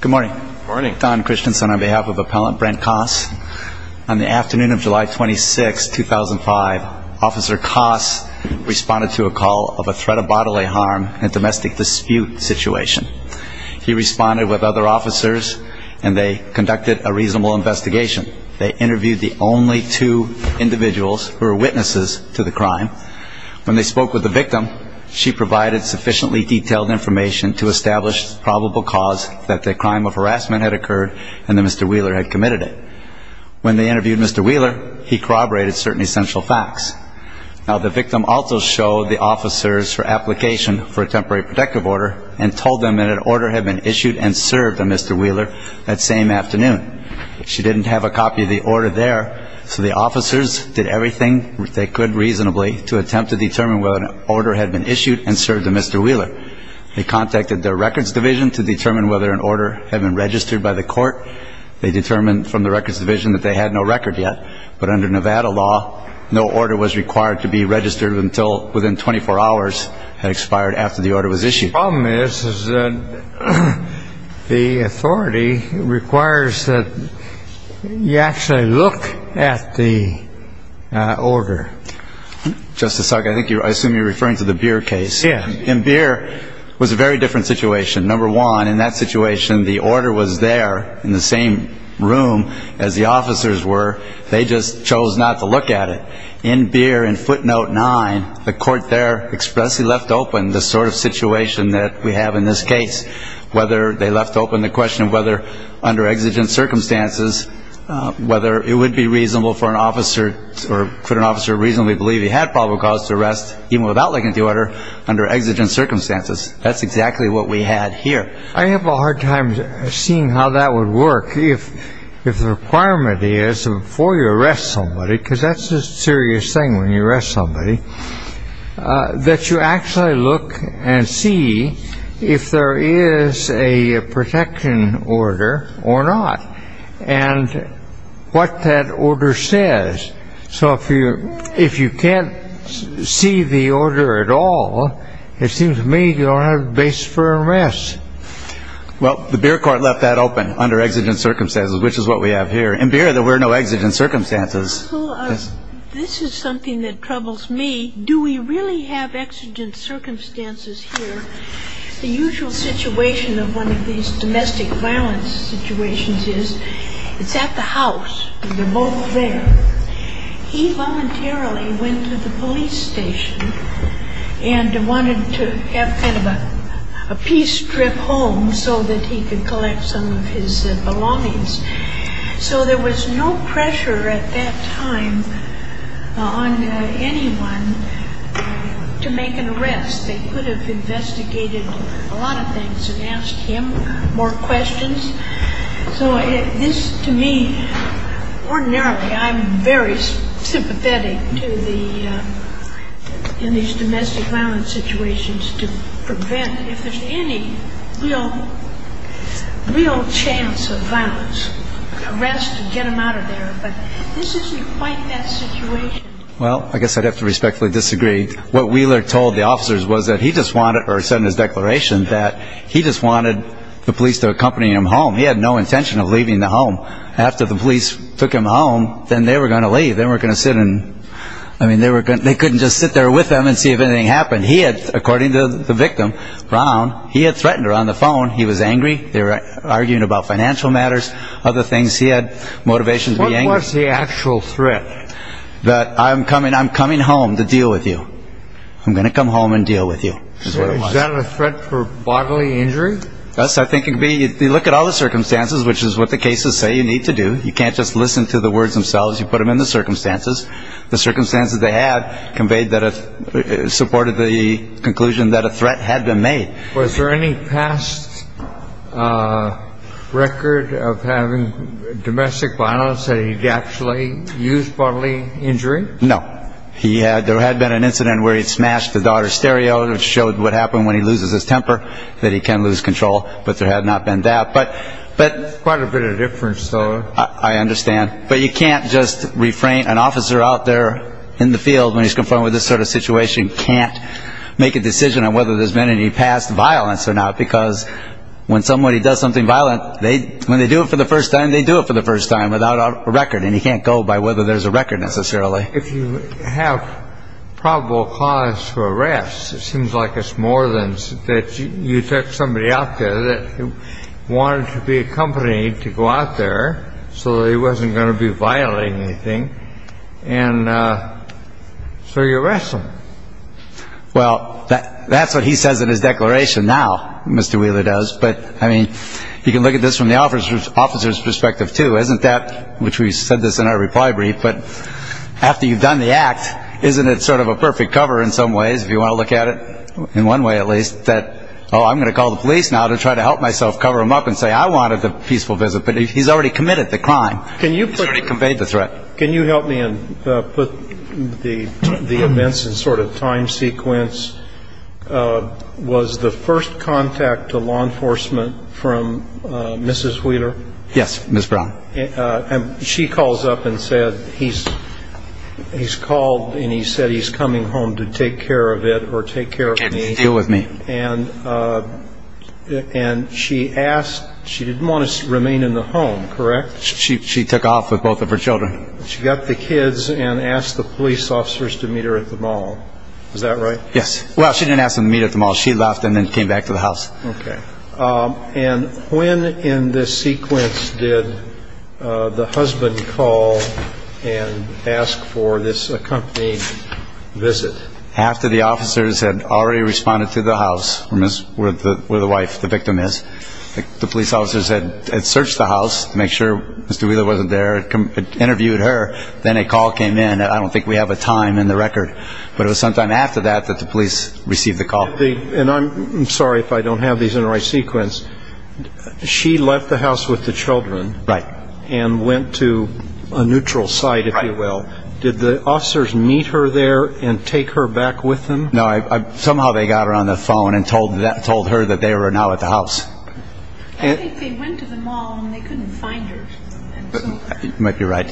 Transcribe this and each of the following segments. Good morning. Don Christensen on behalf of Appellant Brent Coss. On the afternoon of July 26, 2005, Officer Coss responded to a call of a threat of bodily harm and domestic dispute situation. He responded with other officers and they conducted a reasonable investigation. They interviewed the only two individuals who were witnesses to the crime. When they spoke with the victim, she provided sufficiently detailed information to establish the probable cause that the crime of harassment had occurred and that Mr. Wheeler had committed it. When they interviewed Mr. Wheeler, he corroborated certain essential facts. Now, the victim also showed the officers her application for a temporary protective order and told them that an order had been issued and served on Mr. Wheeler that same afternoon. She didn't have a copy of the order there, so the officers did everything they could reasonably to attempt to determine whether an order had been issued and served on Mr. Wheeler. They contacted their records division to determine whether an order had been issued. They determined from the records division that they had no record yet, but under Nevada law, no order was required to be registered until within 24 hours had expired after the order was issued. The problem is that the authority requires that you actually look at the order. Justice Sark, I assume you're referring to the Beer case. In Beer, it was a very different situation. Number one, in that situation, the order was there in the same room as the officers were. They just chose not to look at it. In Beer, in footnote nine, the court there expressly left open the sort of situation that we have in this case. They left open the question of whether under exigent circumstances, whether it would be reasonable for an officer or could an officer reasonably believe he had probable cause to arrest even without looking at the order under exigent circumstances. That's exactly what we had here. I have a hard time seeing how that would work. If the requirement is before you arrest somebody, because that's a serious thing when you arrest somebody, that you actually look and see if there is a protection order or not, and what that order says. So if you can't see the order at all, it seems to me you don't have a basis for arrest. Well, the Beer court left that open under exigent circumstances, which is what we have here. In Beer, there were no exigent circumstances. Well, this is something that troubles me. Do we really have exigent circumstances here? The usual situation of one of these domestic violence situations is it's at the house, and they're both there. He voluntarily went to the police station and wanted to have kind of a peace trip home so that he could collect some of his belongings. So there was no pressure at that time on anyone to make an arrest. They could have investigated a lot of things and asked him more questions. So this, to me, ordinarily I'm very sympathetic to these domestic violence situations to prevent, if there's any, real chance of violence, arrest and get him out of there. But this isn't quite that situation. Well, I guess I'd have to respectfully disagree. What Wheeler told the officers was that he just wanted, or said in his declaration, that he just wanted the police to accompany him home. He had no intention of leaving the home. After the police took him home, then they were going to leave. They were going to sit and, I mean, they couldn't just sit there with them and see if anything happened. He had, according to the victim, Brown, he had threatened her on the phone. He was angry. They were arguing about financial matters, other things. He had motivation to be angry. What was the actual threat? That I'm coming, I'm coming home to deal with you. I'm going to come home and deal with you. Was that a threat for bodily injury? Yes, I think it could be. You look at all the circumstances, which is what the cases say you need to do. You can't just listen to the words themselves. You put them in the circumstances. The circumstances they had conveyed that it supported the conclusion that a threat had been made. Was there any past record of having domestic violence that he'd actually used bodily injury? No. He had, there had been an incident where he'd smashed the daughter's stereo, which showed what happened when he loses his temper, that he can lose control. But there had not been that. But, but. Quite a bit of difference, though. I understand. But you can't just refrain, an officer out there in the field when he's confronted with this sort of situation can't make a decision on whether there's been any past violence or not, because when somebody does something violent, they when they do it for the first time, they do it for the first time without a record. And he can't go by whether there's a record necessarily. If you have probable cause for arrest, it seems like it's more than that. You took somebody out there that wanted to be accompanied to go out there. So he wasn't going to be violating anything. And so you arrest him. Well, that's what he says in his declaration. Now, Mr. Wheeler does. But I mean, you can look at this from the officer's officer's perspective, too, isn't that which we said this in our reply brief. But after you've done the act, isn't it sort of a perfect cover in some ways? If you want to look at it in one way, at least that. Oh, I'm going to call the police now to try to help myself cover him up and say I wanted a peaceful visit. But he's already committed the crime. Can you convey the threat? Can you help me and put the events in sort of time sequence? Was the first contact to law enforcement from Mrs. Wheeler? Yes. Miss Brown. She calls up and said he's he's called and he said he's coming home to take care of it or take care of me. And and she asked she didn't want to remain in the home. Correct. She took off with both of her children. She got the kids and asked the police officers to meet her at the mall. Is that right? Yes. Well, she didn't ask them to meet at the mall. She left and then came back to the house. And when in this sequence did the husband call and ask for this company visit? After the officers had already responded to the house where the where the wife, the victim is, the police officers had searched the house to make sure Mr. Wheeler wasn't there, interviewed her. Then a call came in. I don't think we have a time in the record. But it was sometime after that that the police received the call. And I'm sorry if I don't have these in the right sequence. She left the house with the children. Right. And went to a neutral side, if you will. Did the officers meet her there and take her back with them? No. Somehow they got her on the phone and told that told her that they were now at the house. And they went to the mall and they couldn't find her. Might be right.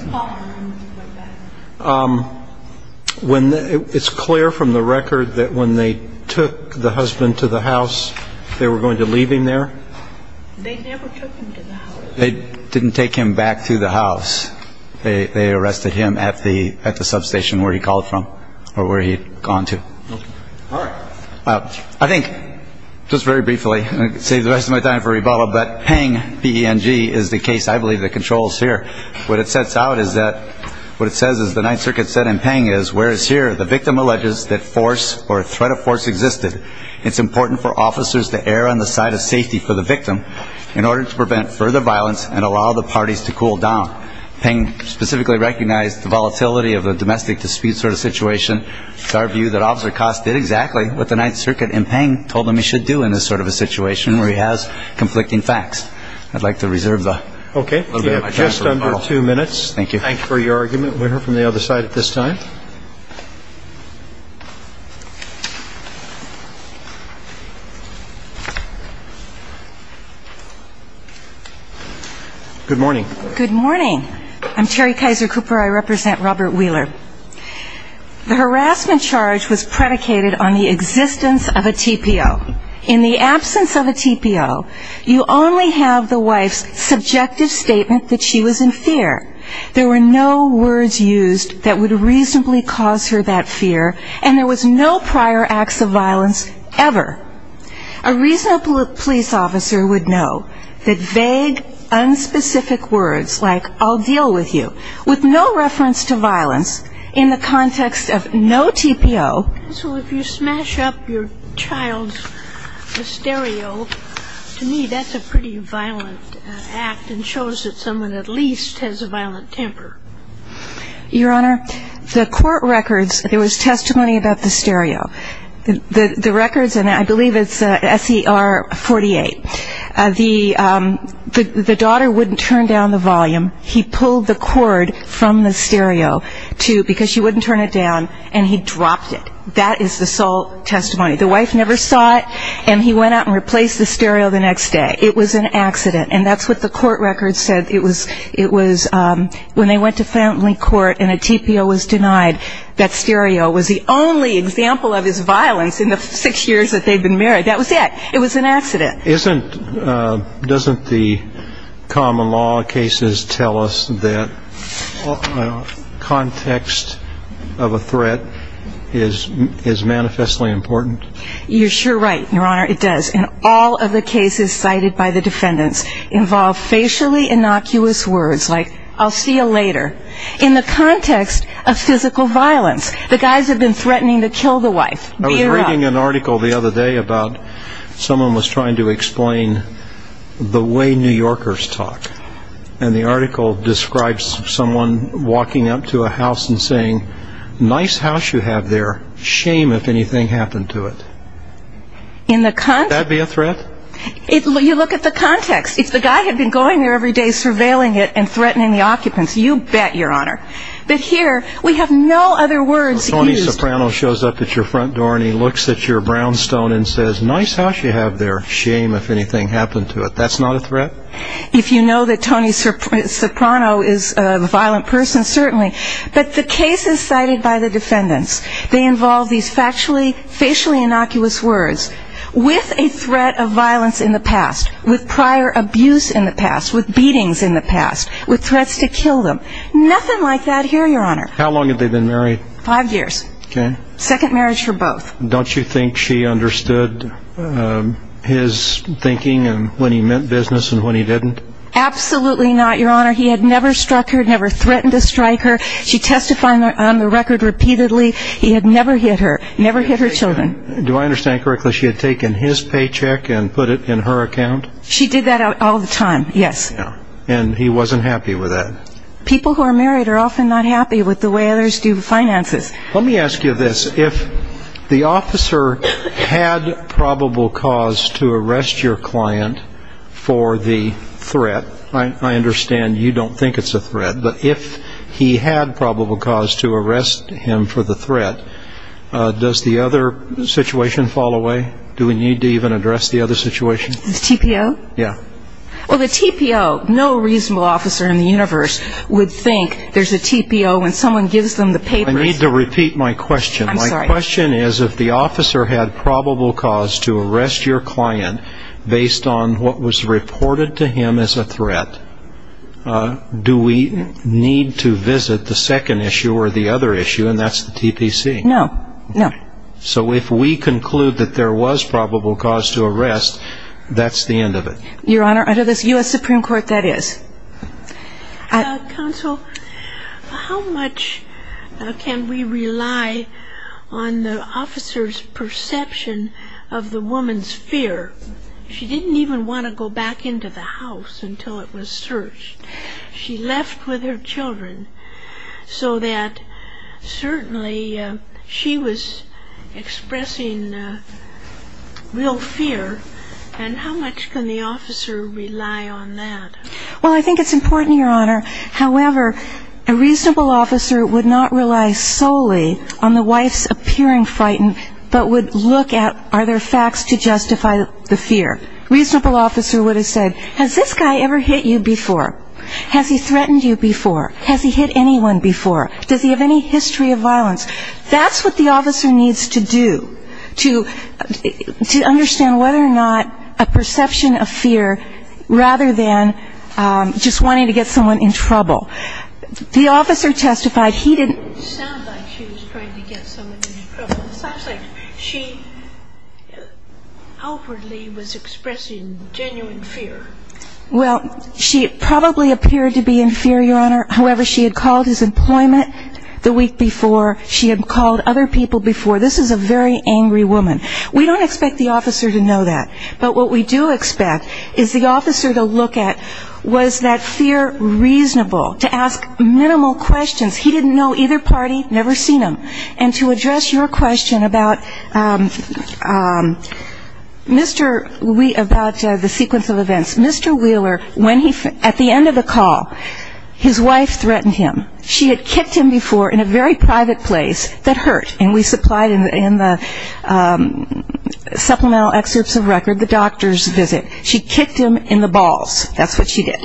When it's clear from the record that when they took the husband to the house, they were going to leave him there. They never took him. They didn't take him back to the house. They arrested him at the at the substation where he called from or where he'd gone to. All right. I think just very briefly, save the rest of my time for rebuttal. But paying PNG is the case. I believe the controls here. What it sets out is that what it says is the Ninth Circuit said and paying is where is here. The victim alleges that force or threat of force existed. It's important for officers to err on the side of safety for the victim in order to prevent further violence and allow the parties to cool down. PNG specifically recognized the volatility of the domestic dispute sort of situation. It's our view that officer cost did exactly what the Ninth Circuit and PNG told them he should do in this sort of a situation where he has conflicting facts. I'd like to reserve the OK, just under two minutes. Thank you for your argument. We'll hear from the other side at this time. Good morning. Good morning. I'm Terry Kaiser Cooper. I represent Robert Wheeler. The harassment charge was predicated on the existence of a TPO. In the absence of a TPO, you only have the wife's subjective statement that she was in fear. There were no words used that would reasonably cause her that fear, and there was no prior acts of violence ever. A reasonable police officer would know that vague, unspecific words like, I'll deal with you, with no reference to violence in the context of no TPO. So if you smash up your child's stereo, to me that's a pretty violent act and shows that someone at least has a violent temper. Your Honor, the court records, there was testimony about the stereo. The records, and I believe it's SER 48, the daughter wouldn't turn down the volume. He pulled the cord from the stereo because she wouldn't turn it down, and he dropped it. That is the sole testimony. The wife never saw it, and he went out and replaced the stereo the next day. It was an accident, and that's what the court records said. It was when they went to family court and a TPO was denied, that stereo was the only example of his violence in the six years that they'd been married. That was it. It was an accident. Doesn't the common law cases tell us that context of a threat is manifestly important? You're sure right, Your Honor, it does. And all of the cases cited by the defendants involve facially innocuous words like, I'll see you later, in the context of physical violence. The guys have been threatening to kill the wife. I was reading an article the other day about someone was trying to explain the way New Yorkers talk, and the article describes someone walking up to a house and saying, nice house you have there, shame if anything happened to it. Would that be a threat? You look at the context. If the guy had been going there every day, surveilling it, and threatening the occupants, you bet, Your Honor. But here, we have no other words used. Tony Soprano shows up at your front door and he looks at your brownstone and says, nice house you have there, shame if anything happened to it. That's not a threat? If you know that Tony Soprano is a violent person, certainly. But the cases cited by the defendants, they involve these facially innocuous words with a threat of violence in the past, with prior abuse in the past, with beatings in the past, with threats to kill them. Nothing like that here, Your Honor. How long had they been married? Five years. Okay. Second marriage for both. Don't you think she understood his thinking and when he meant business and when he didn't? Absolutely not, Your Honor. He had never struck her, never threatened to strike her. She testified on the record repeatedly. He had never hit her, never hit her children. Do I understand correctly, she had taken his paycheck and put it in her account? She did that all the time, yes. And he wasn't happy with that? People who are married are often not happy with the way others do finances. Let me ask you this. If the officer had probable cause to arrest your client for the threat, I understand you don't think it's a threat, but if he had probable cause to arrest him for the threat, does the other situation fall away? Do we need to even address the other situation? The TPO? Yeah. Well, the TPO, no reasonable officer in the universe would think there's a TPO when someone gives them the papers. I need to repeat my question. I'm sorry. My question is if the officer had probable cause to arrest your client based on what was reported to him as a threat, do we need to visit the second issue or the other issue, and that's the TPC? No, no. So if we conclude that there was probable cause to arrest, that's the end of it? Your Honor, under this U.S. Supreme Court, that is. Counsel, how much can we rely on the officer's perception of the woman's fear? She didn't even want to go back into the house until it was searched. She left with her children so that certainly she was expressing real fear, and how much can the officer rely on that? Well, I think it's important, Your Honor. However, a reasonable officer would not rely solely on the wife's appearing frighten, but would look at are there facts to justify the fear. A reasonable officer would have said, has this guy ever hit you before? Has he threatened you before? Has he hit anyone before? Does he have any history of violence? That's what the officer needs to do to understand whether or not a perception of fear, rather than just wanting to get someone in trouble. The officer testified he didn't. It didn't sound like she was trying to get someone in trouble. It sounds like she outwardly was expressing genuine fear. Well, she probably appeared to be in fear, Your Honor. However, she had called his employment the week before. She had called other people before. This is a very angry woman. We don't expect the officer to know that. But what we do expect is the officer to look at was that fear reasonable, to ask minimal questions. He didn't know either party, never seen them. And to address your question about Mr. Wheeler, about the sequence of events, Mr. Wheeler, at the end of the call, his wife threatened him. She had kicked him before in a very private place that hurt. And we supplied in the supplemental excerpts of record the doctor's visit. She kicked him in the balls. That's what she did.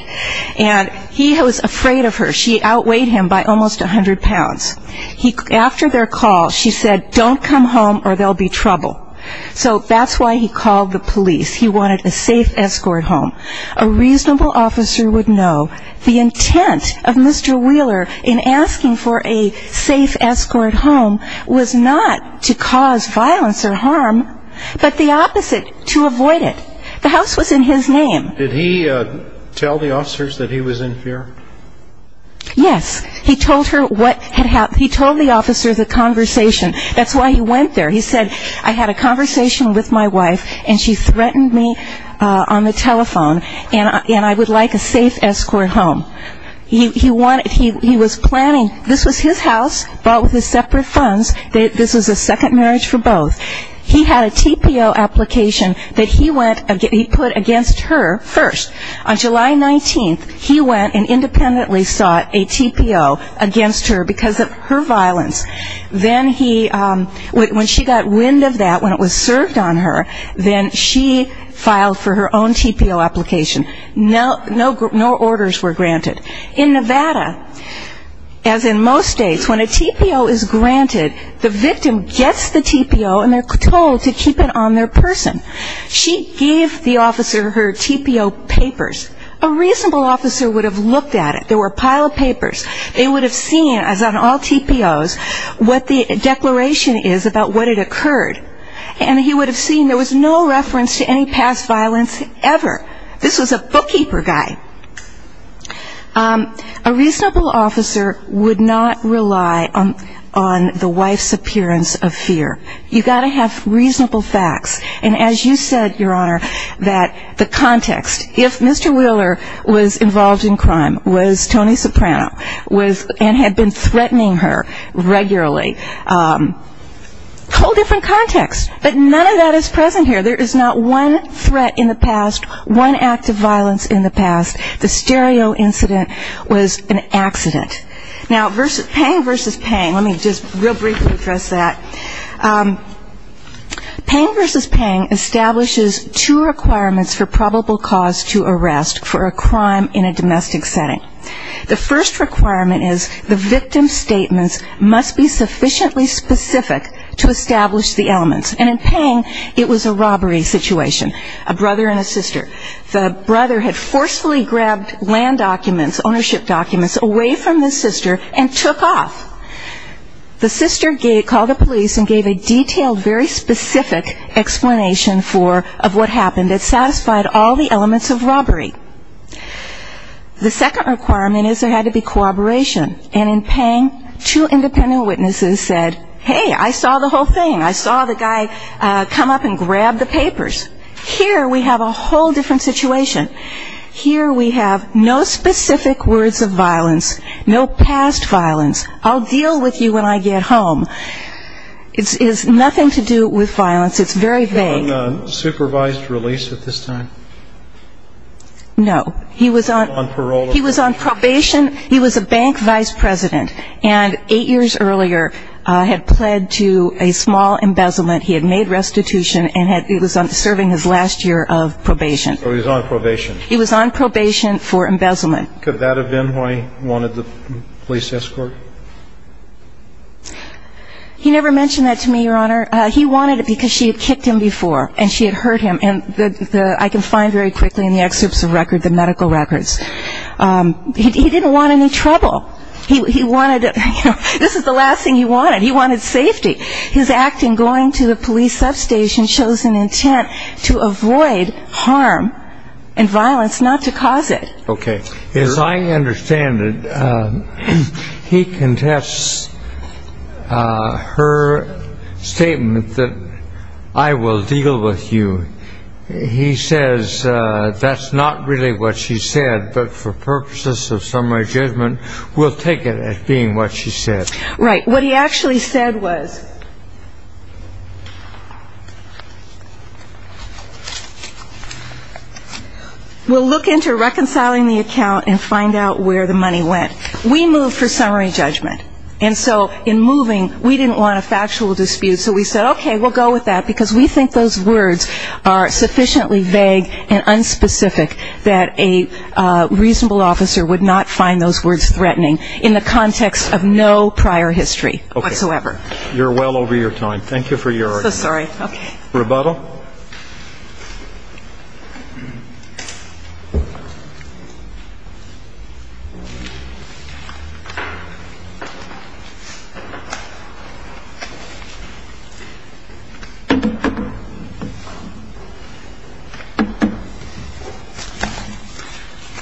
And he was afraid of her. She outweighed him by almost 100 pounds. After their call, she said, don't come home or there will be trouble. So that's why he called the police. He wanted a safe escort home. A reasonable officer would know the intent of Mr. Wheeler in asking for a safe escort home was not to cause violence or harm, but the opposite, to avoid it. The house was in his name. Did he tell the officers that he was in fear? Yes. He told her what had happened. He told the officers the conversation. That's why he went there. He said, I had a conversation with my wife, and she threatened me on the telephone, and I would like a safe escort home. He was planning, this was his house, bought with his separate funds. This was a second marriage for both. He had a TPO application that he put against her first. On July 19th, he went and independently sought a TPO against her because of her violence. Then he, when she got wind of that, when it was served on her, then she filed for her own TPO application. No orders were granted. In Nevada, as in most states, when a TPO is granted, the victim gets the TPO and they're told to keep it on their person. She gave the officer her TPO papers. A reasonable officer would have looked at it. There were a pile of papers. They would have seen, as on all TPOs, what the declaration is about what had occurred. And he would have seen there was no reference to any past violence ever. This was a bookkeeper guy. A reasonable officer would not rely on the wife's appearance of fear. You've got to have reasonable facts. And as you said, Your Honor, that the context, if Mr. Wheeler was involved in crime, was Tony Soprano, and had been threatening her regularly, a whole different context. But none of that is present here. There is not one threat in the past, one act of violence in the past. The stereo incident was an accident. Now, Pang v. Pang, let me just real briefly address that. Pang v. Pang establishes two requirements for probable cause to arrest for a crime in a domestic setting. The first requirement is the victim's statements must be sufficiently specific to establish the elements. And in Pang, it was a robbery situation, a brother and a sister. The brother had forcefully grabbed land documents, ownership documents, away from the sister and took off. The sister called the police and gave a detailed, very specific explanation of what happened. It satisfied all the elements of robbery. The second requirement is there had to be cooperation. And in Pang, two independent witnesses said, hey, I saw the whole thing. I saw the guy come up and grab the papers. Here we have a whole different situation. Here we have no specific words of violence, no past violence. I'll deal with you when I get home. It has nothing to do with violence. It's very vague. Was he on supervised release at this time? No. He was on probation. He was a bank vice president and eight years earlier had pled to a small embezzlement. He had made restitution and he was serving his last year of probation. So he was on probation. He was on probation for embezzlement. Could that have been why he wanted the police escort? He never mentioned that to me, Your Honor. He wanted it because she had kicked him before and she had hurt him. And I can find very quickly in the excerpts of records, the medical records. He didn't want any trouble. This is the last thing he wanted. He wanted safety. His acting going to the police substation shows an intent to avoid harm and violence, not to cause it. Okay. As I understand it, he contests her statement that I will deal with you. He says that's not really what she said, but for purposes of summary judgment, we'll take it as being what she said. Right. What he actually said was we'll look into reconciling the account and find out where the money went. We moved for summary judgment. And so in moving, we didn't want a factual dispute. So we said, okay, we'll go with that because we think those words are sufficiently vague and unspecific that a reasonable officer would not find those words threatening in the context of no prior history whatsoever. Okay. You're well over your time. Thank you for your argument. I'm so sorry. Okay. Rebuttal.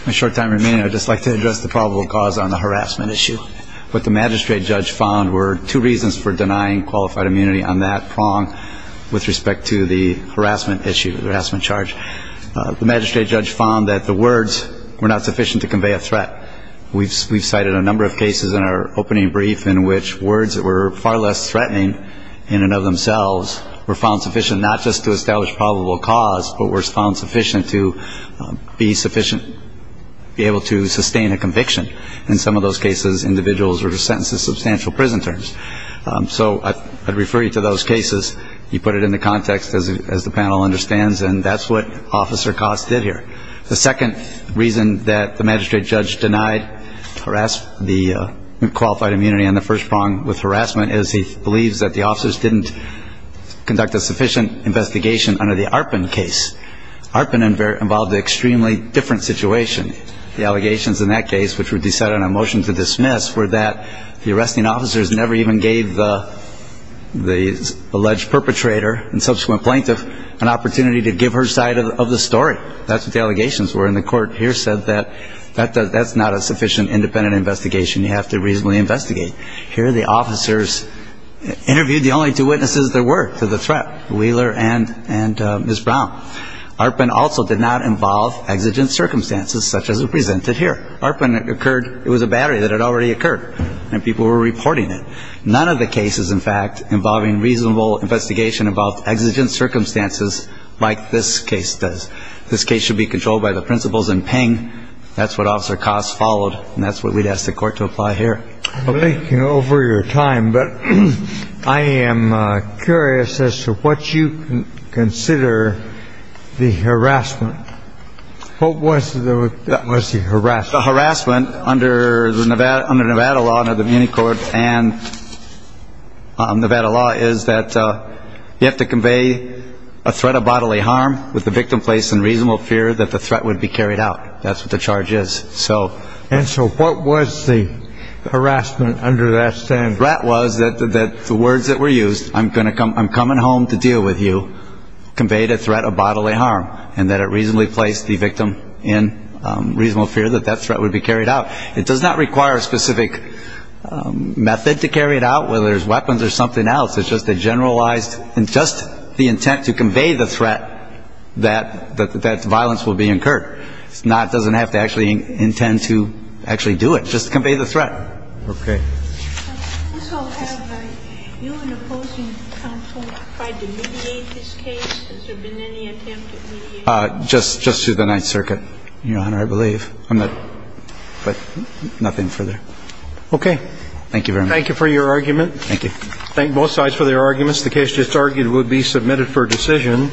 In the short time remaining, I'd just like to address the probable cause on the harassment issue. What the magistrate judge found were two reasons for denying qualified immunity on that prong with respect to the harassment issue, the harassment charge. The magistrate judge found that the words were not sufficient to convey a threat. We've cited a number of cases in our opening brief in which words that were far less threatening in and of themselves were found sufficient not just to establish probable cause, but were found sufficient to be sufficient, be able to sustain a conviction. In some of those cases, individuals were sentenced to substantial prison terms. So I'd refer you to those cases. You put it into context, as the panel understands, and that's what Officer Cost did here. The second reason that the magistrate judge denied the qualified immunity on the first prong with harassment is he believes that the officers didn't conduct a sufficient investigation under the Arpin case. Arpin involved an extremely different situation. The allegations in that case, which were decided on a motion to dismiss, were that the arresting officers never even gave the alleged perpetrator and subsequent plaintiff an opportunity to give her side of the story. That's what the allegations were. And the court here said that that's not a sufficient independent investigation. You have to reasonably investigate. Here the officers interviewed the only two witnesses there were to the threat, Wheeler and Ms. Brown. Arpin also did not involve exigent circumstances such as are presented here. Arpin occurred, it was a battery that had already occurred, and people were reporting it. None of the cases, in fact, involving reasonable investigation involved exigent circumstances like this case does. This case should be controlled by the principles in Ping. That's what Officer Cost followed, and that's what we'd ask the court to apply here. Thank you over your time. But I am curious as to what you consider the harassment. What was that? Was he harassed? Harassment under the Nevada under Nevada law, the court and Nevada law is that you have to convey a threat of bodily harm with the victim place and reasonable fear that the threat would be carried out. That's what the charge is. So and so what was the harassment under that standard? That was that the words that were used. I'm going to come. I'm coming home to deal with you. Conveyed a threat of bodily harm and that it reasonably placed the victim in reasonable fear that that threat would be carried out. It does not require a specific method to carry it out, whether it's weapons or something else. It's just a generalized and just the intent to convey the threat that that violence will be incurred. It's not doesn't have to actually intend to actually do it. Just convey the threat. OK. Just just to the Ninth Circuit. You know, I believe I'm not. But nothing further. OK. Thank you. Thank you for your argument. Thank you. Thank both sides for their arguments. The case just argued would be submitted for decision.